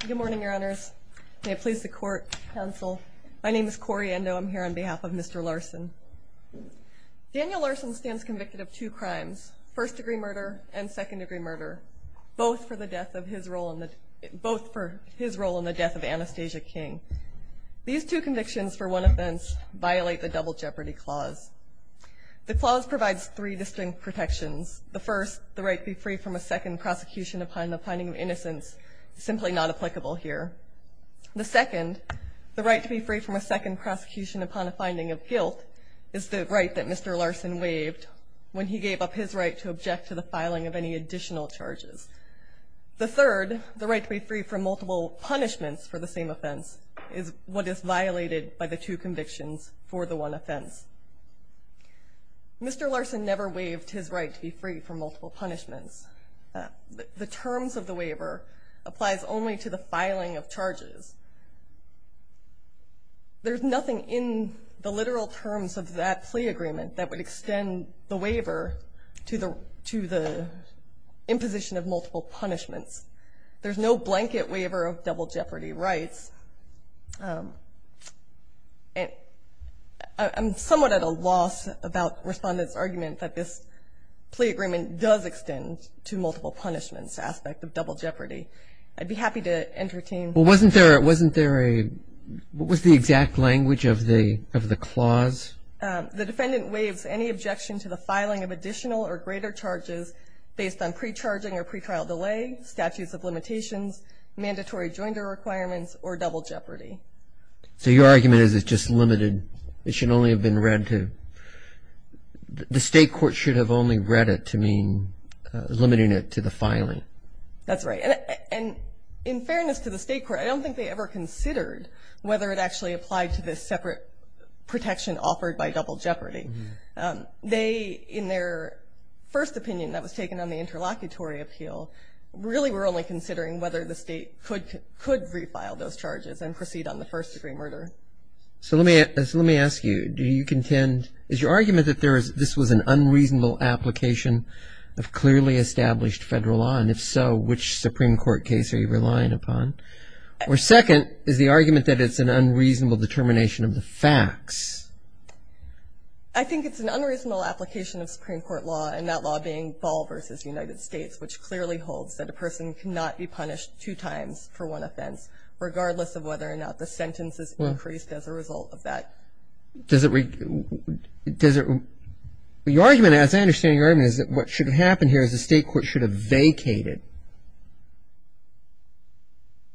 Good morning, your honors. May it please the court, counsel. My name is Cori Endo. I'm here on behalf of Mr. Larson. Daniel Larson stands convicted of two crimes, first-degree murder and second-degree murder, both for his role in the death of Anastasia King. These two convictions for one offense violate the Double Jeopardy Clause. The clause provides three distinct protections. The first, the right to be free from a second prosecution upon the finding of innocence, is simply not applicable here. The second, the right to be free from a second prosecution upon a finding of guilt, is the right that Mr. Larson waived when he gave up his right to object to the filing of any additional charges. The third, the right to be free from multiple punishments for the same offense, is what is violated by the two convictions for the one offense. Mr. Larson never waived his right to be free from multiple punishments. The terms of the waiver applies only to the filing of charges. There's nothing in the literal terms of that plea agreement that would extend the waiver to the imposition of multiple punishments. There's no blanket waiver of double jeopardy rights. I'm somewhat at a loss about Respondent's argument that this plea agreement does extend to multiple punishments aspect of double jeopardy. I'd be happy to entertain. Well, wasn't there a, what was the exact language of the clause? The defendant waives any objection to the filing of additional or greater charges based on pre-charging or pre-trial delay, statutes of limitations, mandatory joinder requirements, or double jeopardy. So your argument is it's just limited, it should only have been read to, the state court should have only read it to mean limiting it to the filing. That's right. And in fairness to the state court, I don't think they ever considered whether it actually applied to the separate protection offered by double jeopardy. They, in their first opinion that was taken on the interlocutory appeal, really were only considering whether the state could refile those charges and proceed on the first degree murder. So let me ask you, do you contend, is your argument that this was an unreasonable application of clearly established Federal law and if so, which Supreme Court case are you relying upon? Or second, is the argument that it's an unreasonable determination of the facts? I think it's an unreasonable application of Supreme Court law, and that law being Ball v. United States, which clearly holds that a person cannot be punished two times for one offense, regardless of whether or not the sentence is increased as a result of that. Does it, does it, your argument, as I understand your argument, is that what should have happened here is the state court should have vacated?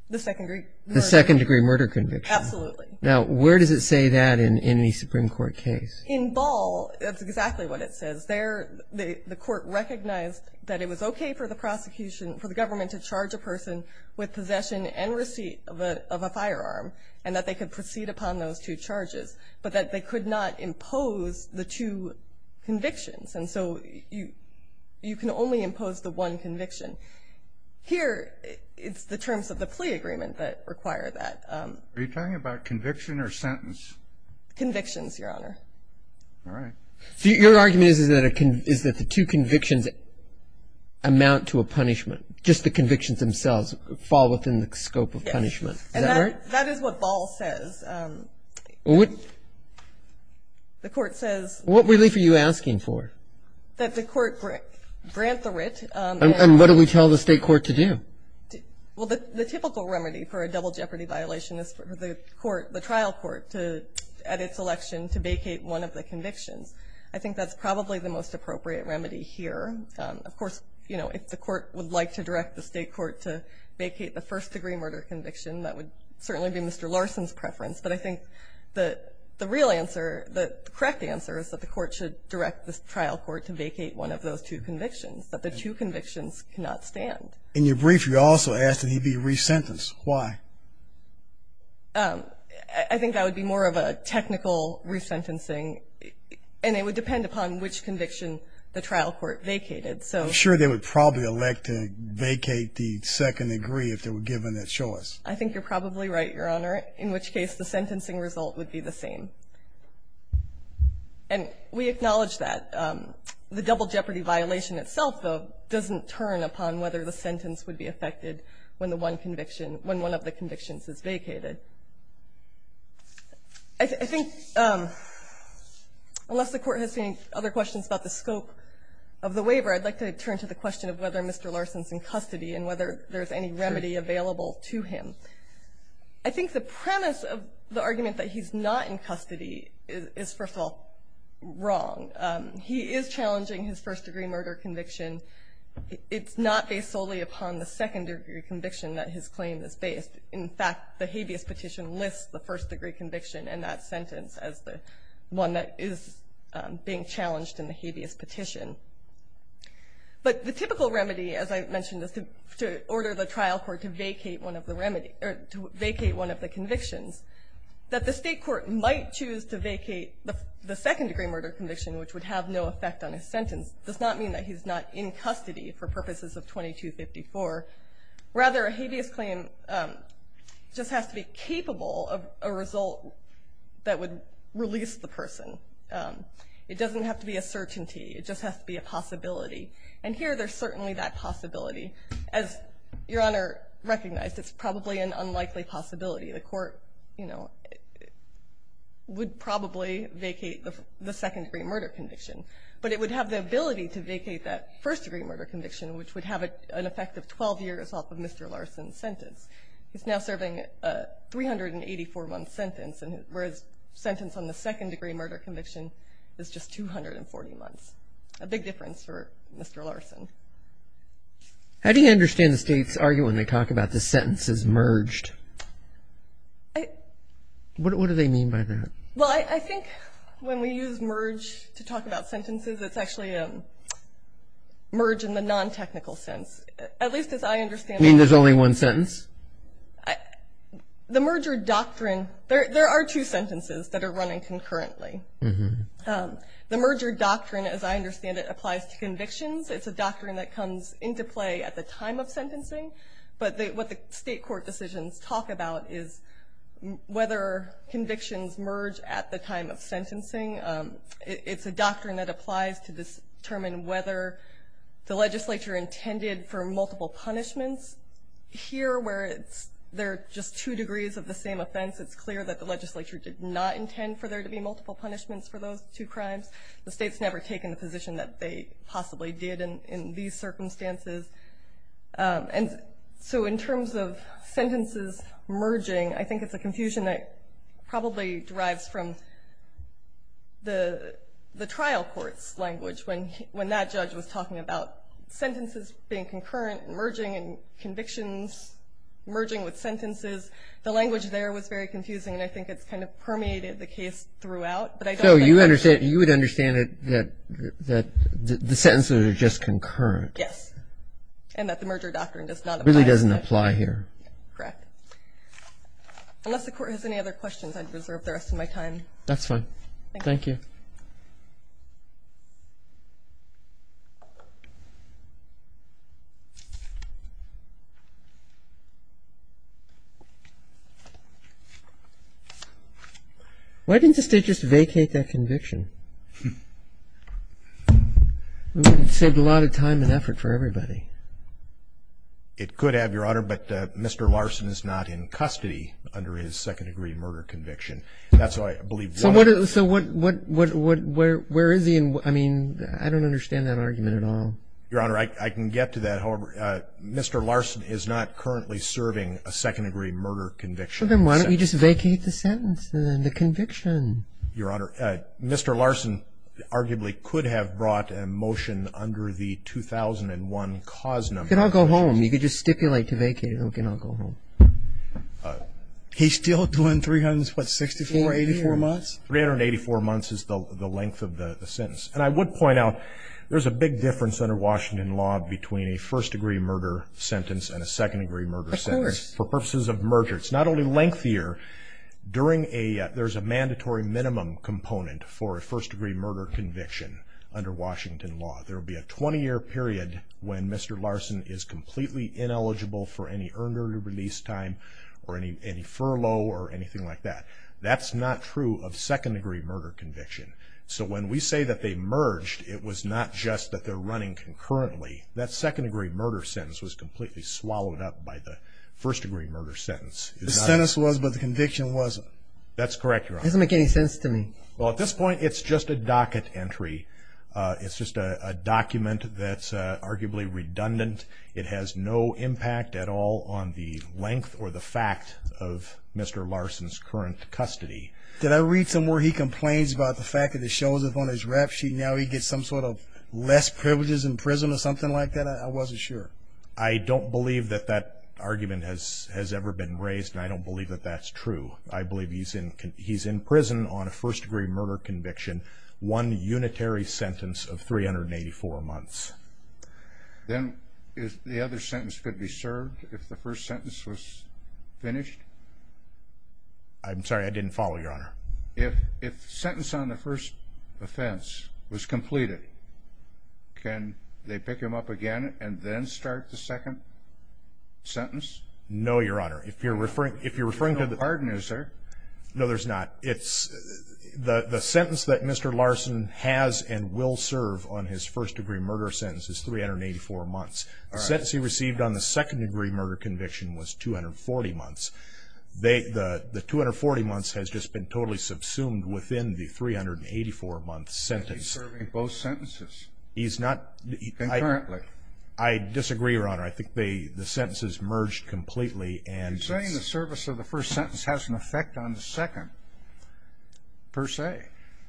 The second degree murder. The second degree murder conviction. Absolutely. Now, where does it say that in any Supreme Court case? In Ball, that's exactly what it says. There, the court recognized that it was okay for the prosecution, for the government to charge a person with possession and receipt of a firearm, and that they could proceed upon those two charges, but that they could not impose the two convictions. And so you can only impose the one conviction. Here, it's the terms of the plea agreement that require that. Are you talking about conviction or sentence? Convictions, Your Honor. All right. So your argument is that the two convictions amount to a punishment, just the convictions themselves fall within the scope of punishment. Yes. Is that right? That is what Ball says. What? The court says. What relief are you asking for? That the court grant the writ. And what do we tell the state court to do? Well, the typical remedy for a double jeopardy violation is for the court, the trial court to, at its election, to vacate one of the convictions. I think that's probably the most appropriate remedy here. Of course, you know, if the court would like to direct the state court to vacate the first degree murder conviction, that would certainly be Mr. Larson's preference. But I think the real answer, the correct answer, is that the court should direct the trial court to vacate one of those two convictions, that the two convictions cannot stand. In your brief, you also asked that he be resentenced. Why? I think that would be more of a technical resentencing, and it would depend upon which conviction the trial court vacated. I'm sure they would probably elect to vacate the second degree if they were given that choice. I think you're probably right, Your Honor, in which case the sentencing result would be the same. And we acknowledge that. The double jeopardy violation itself, though, doesn't turn upon whether the sentence would be affected when the one conviction, when one of the convictions is vacated. I think unless the Court has any other questions about the scope of the waiver, I'd like to turn to the question of whether Mr. Larson's in custody and whether there's any remedy available to him. I think the premise of the argument that he's not in custody is, first of all, wrong. He is challenging his first degree murder conviction. It's not based solely upon the second degree conviction that his claim is based. In fact, the habeas petition lists the first degree conviction in that sentence as the one that is being challenged in the habeas petition. But the typical remedy, as I mentioned, is to order the trial court to vacate one of the convictions. That the state court might choose to vacate the second degree murder conviction, which would have no effect on his sentence, does not mean that he's not in custody for purposes of 2254. Rather, a habeas claim just has to be capable of a result that would release the person. It doesn't have to be a certainty. It just has to be a possibility. And here there's certainly that possibility. As Your Honor recognized, it's probably an unlikely possibility. The court, you know, would probably vacate the second degree murder conviction. But it would have the ability to vacate that first degree murder conviction, which would have an effect of 12 years off of Mr. Larson's sentence. He's now serving a 384-month sentence, whereas sentence on the second degree murder conviction is just 240 months. A big difference for Mr. Larson. How do you understand the state's argument when they talk about the sentences merged? What do they mean by that? Well, I think when we use merge to talk about sentences, it's actually a merge in the non-technical sense. At least as I understand it. You mean there's only one sentence? The merger doctrine, there are two sentences that are running concurrently. The merger doctrine, as I understand it, applies to convictions. It's a doctrine that comes into play at the time of sentencing. But what the state court decisions talk about is whether convictions merge at the time of sentencing. It's a doctrine that applies to determine whether the legislature intended for multiple punishments. Here, where there are just two degrees of the same offense, it's clear that the legislature did not intend for there to be multiple punishments for those two crimes. The state's never taken the position that they possibly did in these circumstances. So in terms of sentences merging, I think it's a confusion that probably derives from the trial court's language when that judge was talking about sentences being concurrent and merging and convictions merging with sentences. The language there was very confusing, and I think it's kind of permeated the case throughout. So you would understand that the sentences are just concurrent? Yes, and that the merger doctrine does not apply. It really doesn't apply here. Correct. Unless the court has any other questions, I'd reserve the rest of my time. That's fine. Thank you. Why didn't the state just vacate that conviction? It saved a lot of time and effort for everybody. It could have, Your Honor, but Mr. Larson is not in custody under his second-degree murder conviction. So where is he? I mean, I don't understand that argument at all. Your Honor, I can get to that. However, Mr. Larson is not currently serving a second-degree murder conviction. Well, then why don't we just vacate the sentence and the conviction? Your Honor, Mr. Larson arguably could have brought a motion under the 2001 cause number. He could all go home. He could just stipulate to vacate it. He could all go home. He's still doing 364, 384 months? 384 months is the length of the sentence. And I would point out there's a big difference under Washington law between a first-degree murder sentence and a second-degree murder sentence for purposes of merger. It's not only lengthier. There's a mandatory minimum component for a first-degree murder conviction under Washington law. There would be a 20-year period when Mr. Larson is completely ineligible for any earned early release time or any furlough or anything like that. That's not true of second-degree murder conviction. So when we say that they merged, it was not just that they're running concurrently. That second-degree murder sentence was completely swallowed up by the first-degree murder sentence. The sentence was, but the conviction wasn't. That's correct, Your Honor. It doesn't make any sense to me. Well, at this point, it's just a docket entry. It's just a document that's arguably redundant. It has no impact at all on the length or the fact of Mr. Larson's current custody. Did I read somewhere he complains about the fact that it shows up on his rap sheet and now he gets some sort of less privileges in prison or something like that? I wasn't sure. I don't believe that that argument has ever been raised, and I don't believe that that's true. I believe he's in prison on a first-degree murder conviction. One unitary sentence of 384 months. Then the other sentence could be served if the first sentence was finished? I'm sorry, I didn't follow, Your Honor. If the sentence on the first offense was completed, can they pick him up again and then start the second sentence? No, Your Honor. If you're referring to the— There's no pardon, is there? No, there's not. The sentence that Mr. Larson has and will serve on his first-degree murder sentence is 384 months. The sentence he received on the second-degree murder conviction was 240 months. The 240 months has just been totally subsumed within the 384-month sentence. He's serving both sentences concurrently. I disagree, Your Honor. I think the sentence is merged completely. You're saying the service of the first sentence has an effect on the second, per se?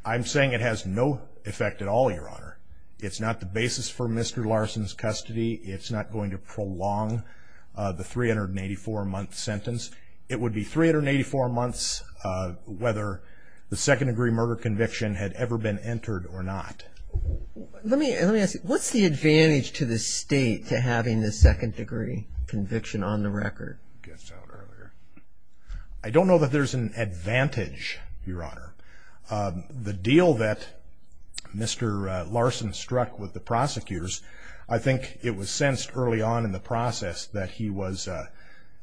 I'm saying it has no effect at all, Your Honor. It's not the basis for Mr. Larson's custody. It's not going to prolong the 384-month sentence. It would be 384 months whether the second-degree murder conviction had ever been entered or not. Let me ask you, what's the advantage to the state to having the second-degree conviction on the record? I don't know that there's an advantage, Your Honor. The deal that Mr. Larson struck with the prosecutors, I think it was sensed early on in the process that he was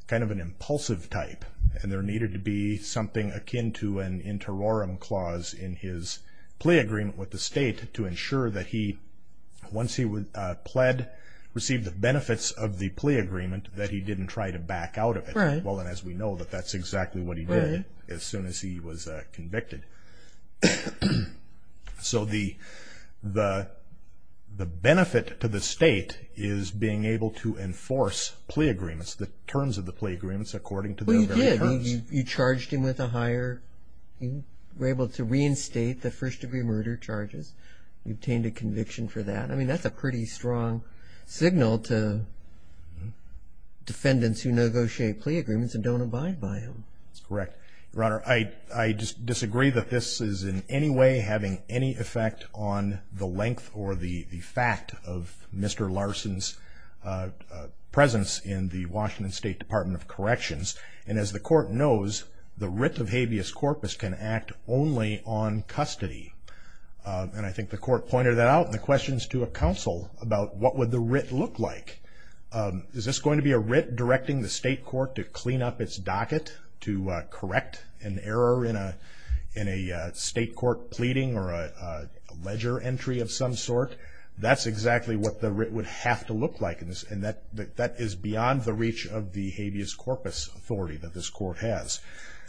kind of an impulsive type, and there needed to be something akin to an interorum clause in his plea agreement with the state to ensure that he, once he pled, received the benefits of the plea agreement, that he didn't try to back out of it. Well, as we know, that's exactly what he did as soon as he was convicted. So the benefit to the state is being able to enforce plea agreements, the terms of the plea agreements according to their very terms. Well, you did. You charged him with a higher, you were able to reinstate the first-degree murder charges. You obtained a conviction for that. I mean, that's a pretty strong signal to defendants who negotiate plea agreements and don't abide by them. Correct. Your Honor, I disagree that this is in any way having any effect on the length or the fact of Mr. Larson's presence in the Washington State Department of Corrections. And as the Court knows, the writ of habeas corpus can act only on custody. And I think the Court pointed that out in the questions to a counsel about what would the writ look like. Is this going to be a writ directing the state court to clean up its docket, to correct an error in a state court pleading or a ledger entry of some sort? That's exactly what the writ would have to look like. And that is beyond the reach of the habeas corpus authority that this Court has.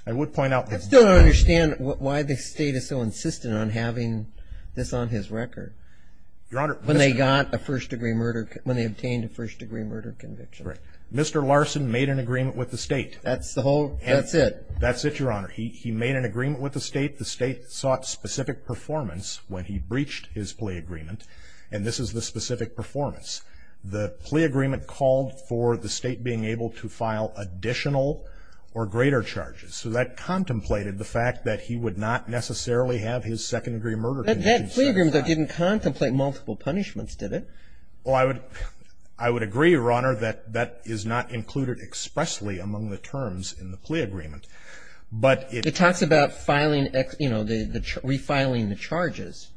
I would point out that the- I still don't understand why the state is so insistent on having this on his record. Your Honor- When they got a first-degree murder, when they obtained a first-degree murder conviction. Correct. Mr. Larson made an agreement with the state. That's the whole- And- That's it. That's it, Your Honor. He made an agreement with the state. The state sought specific performance when he breached his plea agreement. And this is the specific performance. The plea agreement called for the state being able to file additional or greater charges. So that contemplated the fact that he would not necessarily have his second-degree murder conviction- But that plea agreement, though, didn't contemplate multiple punishments, did it? Well, I would agree, Your Honor, that that is not included expressly among the terms in the plea agreement. But it- It talks about refiling the charges.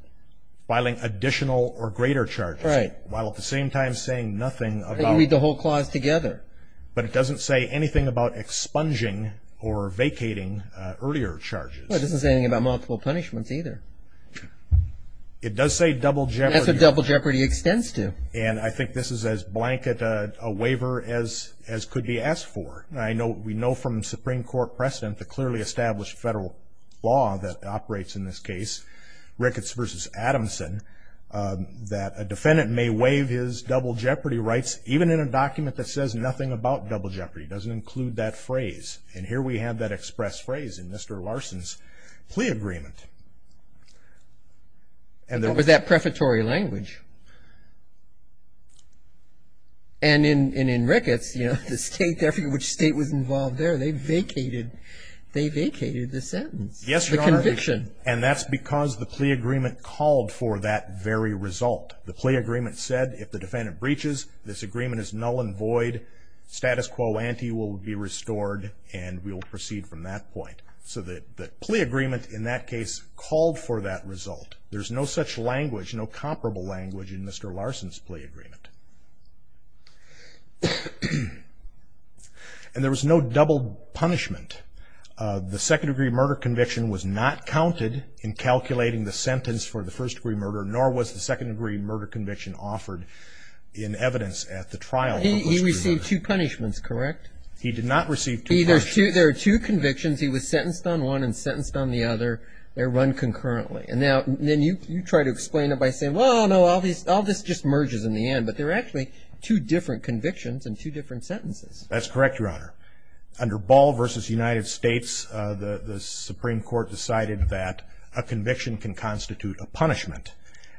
Filing additional or greater charges. Right. While at the same time saying nothing about- And you read the whole clause together. But it doesn't say anything about expunging or vacating earlier charges. Well, it doesn't say anything about multiple punishments either. It does say double jeopardy. It extends to. And I think this is as blanket a waiver as could be asked for. I know we know from Supreme Court precedent the clearly established federal law that operates in this case, Ricketts v. Adamson, that a defendant may waive his double jeopardy rights even in a document that says nothing about double jeopardy. It doesn't include that phrase. And here we have that express phrase in Mr. Larson's plea agreement. And there was that prefatory language. And in Ricketts, you know, the state, every state that was involved there, they vacated, they vacated the sentence. Yes, Your Honor. The conviction. And that's because the plea agreement called for that very result. The plea agreement said if the defendant breaches, this agreement is null and void, status quo ante will be restored, and we will proceed from that point. So the plea agreement in that case called for that result. There's no such language, no comparable language in Mr. Larson's plea agreement. And there was no double punishment. The second-degree murder conviction was not counted in calculating the sentence for the first-degree murder, nor was the second-degree murder conviction offered in evidence at the trial. He received two punishments, correct? He did not receive two punishments. There are two convictions. He was sentenced on one and sentenced on the other. They're run concurrently. And then you try to explain it by saying, well, no, all this just merges in the end. But there are actually two different convictions and two different sentences. That's correct, Your Honor. Under Ball v. United States, the Supreme Court decided that a conviction can constitute a punishment.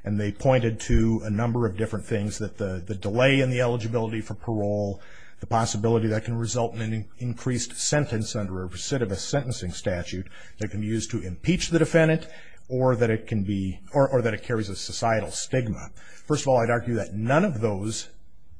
And they pointed to a number of different things, that the delay in the eligibility for parole, the possibility that can result in an increased sentence under a recidivist sentencing statute that can be used to impeach the defendant, or that it carries a societal stigma. First of all, I'd argue that none of those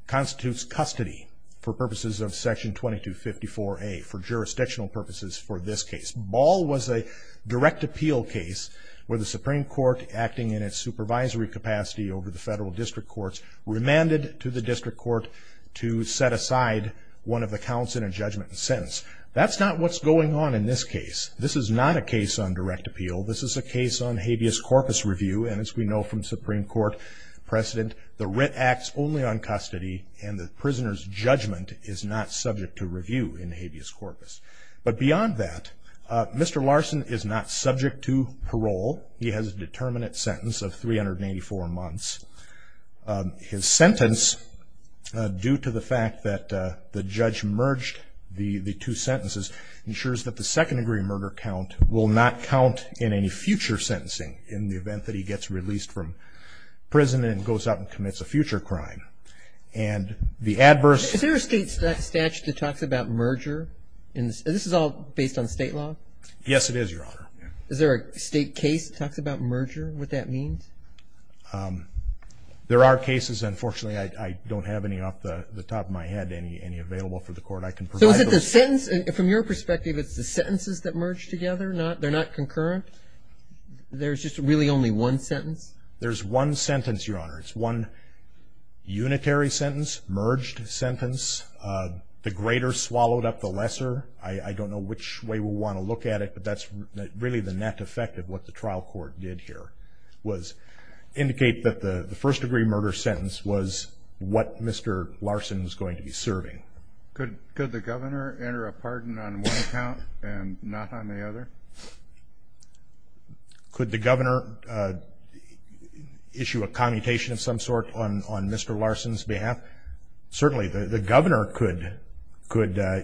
constitutes custody for purposes of Section 2254A, for jurisdictional purposes for this case. Ball was a direct appeal case where the Supreme Court, acting in its supervisory capacity over the federal district courts, remanded to the district court to set aside one of the counts in a judgment and sentence. That's not what's going on in this case. This is not a case on direct appeal. This is a case on habeas corpus review. And as we know from Supreme Court precedent, the writ acts only on custody, and the prisoner's judgment is not subject to review in habeas corpus. He has a determinate sentence of 384 months. His sentence, due to the fact that the judge merged the two sentences, ensures that the second-degree murder count will not count in any future sentencing in the event that he gets released from prison and goes out and commits a future crime. And the adverse... Is there a state statute that talks about merger? This is all based on state law? Yes, it is, Your Honor. Is there a state case that talks about merger, what that means? There are cases. Unfortunately, I don't have any off the top of my head, any available for the court. I can provide those. So is it the sentence? From your perspective, it's the sentences that merge together? They're not concurrent? There's just really only one sentence? There's one sentence, Your Honor. It's one unitary sentence, merged sentence. The greater swallowed up the lesser. I don't know which way we'll want to look at it, but that's really the net effect of what the trial court did here, was indicate that the first-degree murder sentence was what Mr. Larson is going to be serving. Could the governor enter a pardon on one count and not on the other? Could the governor issue a commutation of some sort on Mr. Larson's behalf? Certainly. The governor could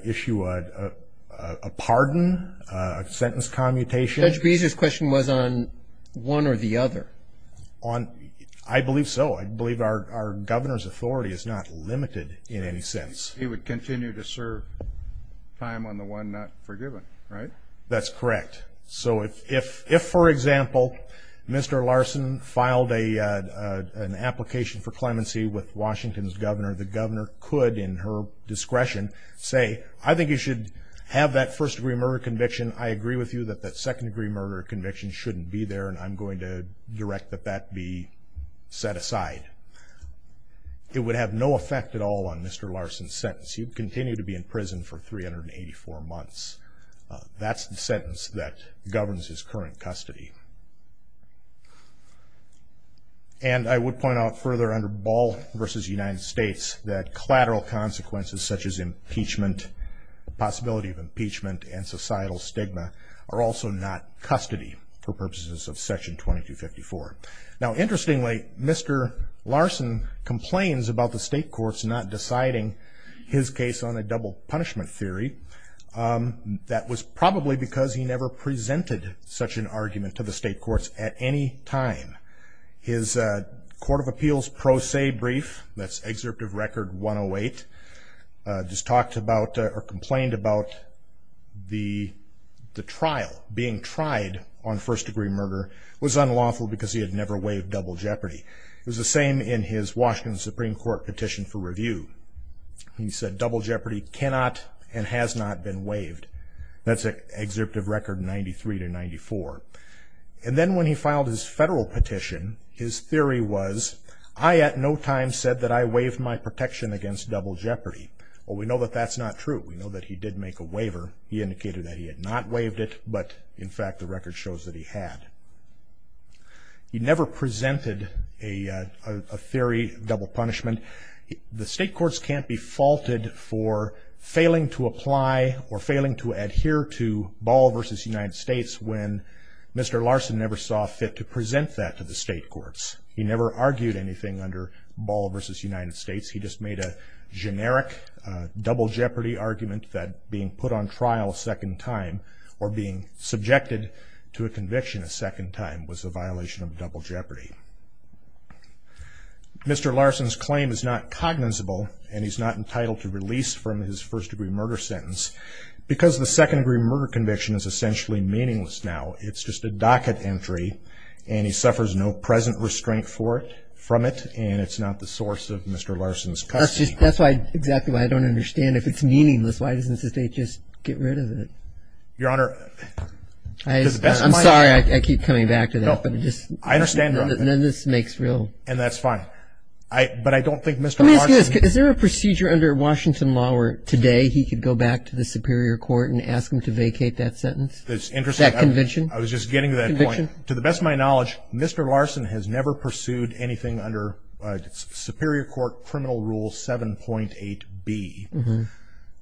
issue a pardon, a sentence commutation. Judge Beezer's question was on one or the other. I believe so. I believe our governor's authority is not limited in any sense. He would continue to serve time on the one not forgiven, right? That's correct. If, for example, Mr. Larson filed an application for clemency with Washington's governor, the governor could, in her discretion, say, I think you should have that first-degree murder conviction. I agree with you that that second-degree murder conviction shouldn't be there, and I'm going to direct that that be set aside. It would have no effect at all on Mr. Larson's sentence. He would continue to be in prison for 384 months. That's the sentence that governs his current custody. And I would point out further, under Ball v. United States, that collateral consequences such as impeachment, the possibility of impeachment and societal stigma, are also not custody for purposes of Section 2254. Now, interestingly, Mr. Larson complains about the state courts not deciding his case on a double punishment theory. That was probably because he never presented such an argument to the state courts at any time. His Court of Appeals pro se brief, that's Excerpt of Record 108, just talked about or complained about the trial, being tried on first-degree murder, was unlawful because he had never waived double jeopardy. It was the same in his Washington Supreme Court petition for review. He said double jeopardy cannot and has not been waived. That's Excerpt of Record 93-94. And then when he filed his federal petition, his theory was, I at no time said that I waived my protection against double jeopardy. Well, we know that that's not true. We know that he did make a waiver. He indicated that he had not waived it, but in fact the record shows that he had. He never presented a theory of double punishment. And the state courts can't be faulted for failing to apply or failing to adhere to Ball v. United States when Mr. Larson never saw fit to present that to the state courts. He never argued anything under Ball v. United States. He just made a generic double jeopardy argument that being put on trial a second time or being subjected to a conviction a second time was a violation of double jeopardy. Mr. Larson's claim is not cognizable, and he's not entitled to release from his first-degree murder sentence because the second-degree murder conviction is essentially meaningless now. It's just a docket entry, and he suffers no present restraint from it, and it's not the source of Mr. Larson's custody. That's exactly why I don't understand. If it's meaningless, why doesn't the state just get rid of it? Your Honor, to the best of my knowledge. I'm sorry. I keep coming back to that. I understand, Your Honor. None of this makes real sense. And that's fine. But I don't think Mr. Larson Let me ask you this. Is there a procedure under Washington law where today he could go back to the Superior Court and ask them to vacate that sentence, that conviction? I was just getting to that point. To the best of my knowledge, Mr. Larson has never pursued anything under Superior Court Criminal Rule 7.8b.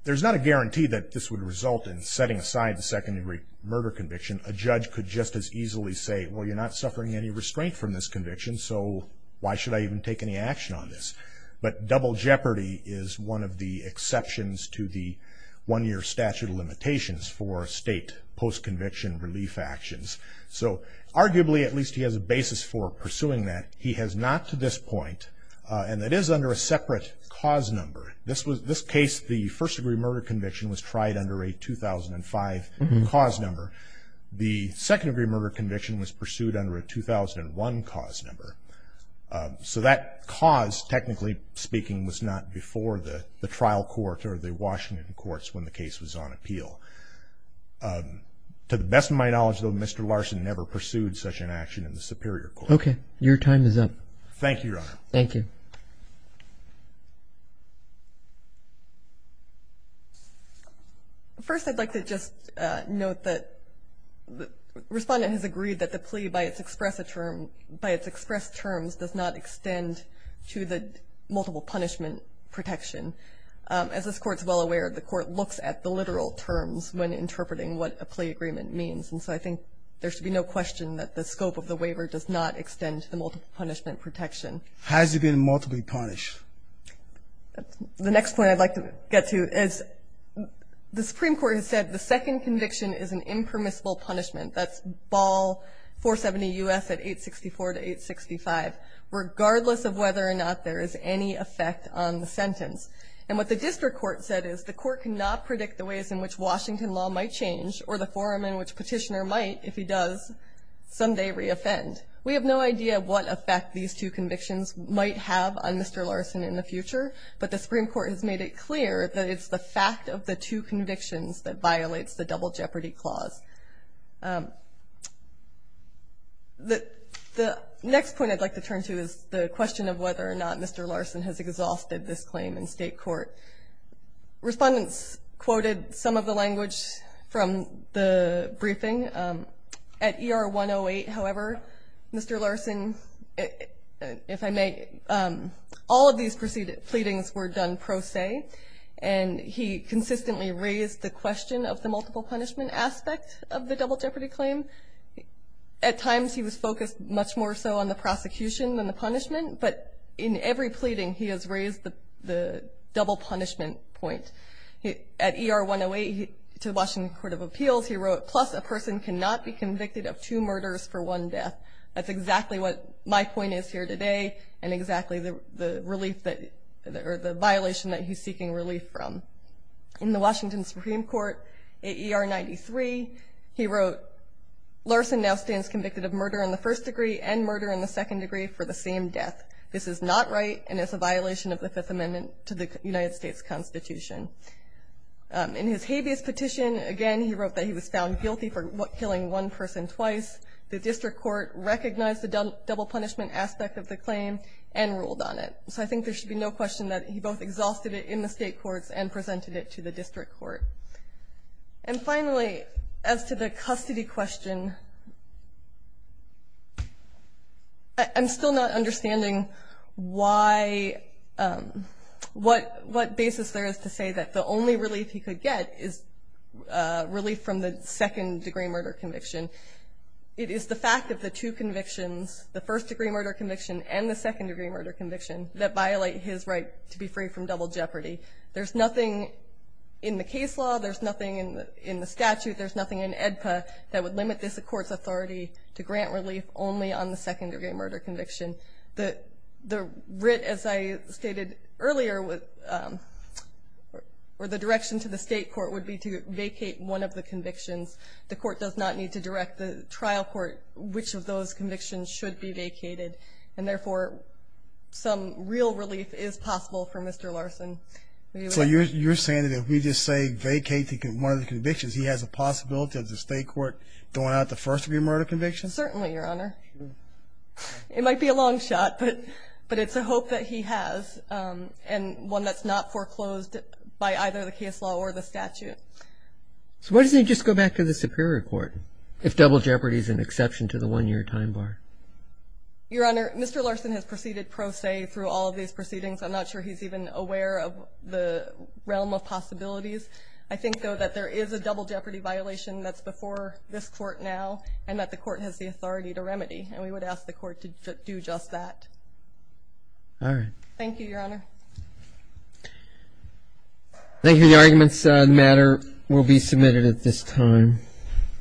There's not a guarantee that this would result in setting aside the second-degree murder conviction. A judge could just as easily say, Well, you're not suffering any restraint from this conviction, so why should I even take any action on this? But double jeopardy is one of the exceptions to the one-year statute of limitations for state post-conviction relief actions. So arguably at least he has a basis for pursuing that. He has not to this point, and it is under a separate cause number. This case, the first-degree murder conviction was tried under a 2005 cause number. The second-degree murder conviction was pursued under a 2001 cause number. So that cause, technically speaking, was not before the trial court or the Washington courts when the case was on appeal. To the best of my knowledge, though, Mr. Larson never pursued such an action in the Superior Court. Okay. Your time is up. Thank you, Your Honor. Thank you. First, I'd like to just note that the Respondent has agreed that the plea by its express terms does not extend to the multiple punishment protection. As this Court is well aware, the Court looks at the literal terms when interpreting what a plea agreement means. And so I think there should be no question that the scope of the waiver does not extend to the multiple punishment protection. Has it been multiply punished? The next point I'd like to get to is, the Supreme Court has said the second conviction is an impermissible punishment. That's Ball 470 U.S. at 864 to 865, regardless of whether or not there is any effect on the sentence. And what the District Court said is, the Court cannot predict the ways in which Washington law might change or the forum in which Petitioner might, if he does, someday reoffend. We have no idea what effect these two convictions might have on Mr. Larson in the future, but the Supreme Court has made it clear that it's the fact of the two convictions that violates the double jeopardy clause. The next point I'd like to turn to is the question of whether or not Mr. Larson has exhausted this claim in state court. Respondents quoted some of the language from the briefing. At ER 108, however, Mr. Larson, if I may, all of these proceedings were done pro se, and he consistently raised the question of the multiple punishment aspect of the double jeopardy claim. At times he was focused much more so on the prosecution than the punishment, but in every pleading he has raised the double punishment point. At ER 108, to the Washington Court of Appeals, he wrote, plus a person cannot be convicted of two murders for one death. That's exactly what my point is here today and exactly the relief that, or the violation that he's seeking relief from. In the Washington Supreme Court, at ER 93, he wrote, Larson now stands convicted of murder in the first degree and murder in the second degree for the same death. This is not right and is a violation of the Fifth Amendment to the United States Constitution. In his habeas petition, again, he wrote that he was found guilty for killing one person twice. The district court recognized the double punishment aspect of the claim and ruled on it. So I think there should be no question that he both exhausted it in the state courts and presented it to the district court. And finally, as to the custody question, I'm still not understanding why, what basis there is to say that the only relief he could get is relief from the second degree murder conviction. It is the fact that the two convictions, the first degree murder conviction and the second degree murder conviction, that violate his right to be free from double jeopardy. There's nothing in the case law, there's nothing in the statute, there's nothing in AEDPA that would limit this court's authority to grant relief only on the second degree murder conviction. The writ, as I stated earlier, or the direction to the state court would be to vacate one of the convictions. The court does not need to direct the trial court which of those convictions should be vacated. And therefore, some real relief is possible for Mr. Larson. So you're saying that if we just say vacate one of the convictions, he has a possibility of the state court throwing out the first degree murder conviction? Certainly, Your Honor. It might be a long shot, but it's a hope that he has, and one that's not foreclosed by either the case law or the statute. So why doesn't he just go back to the superior court, if double jeopardy is an exception to the one-year time bar? Your Honor, Mr. Larson has proceeded pro se through all of these proceedings. I'm not sure he's even aware of the realm of possibilities. I think, though, that there is a double jeopardy violation that's before this court now, and that the court has the authority to remedy. And we would ask the court to do just that. All right. Thank you, Your Honor. Thank you. The arguments on the matter will be submitted at this time.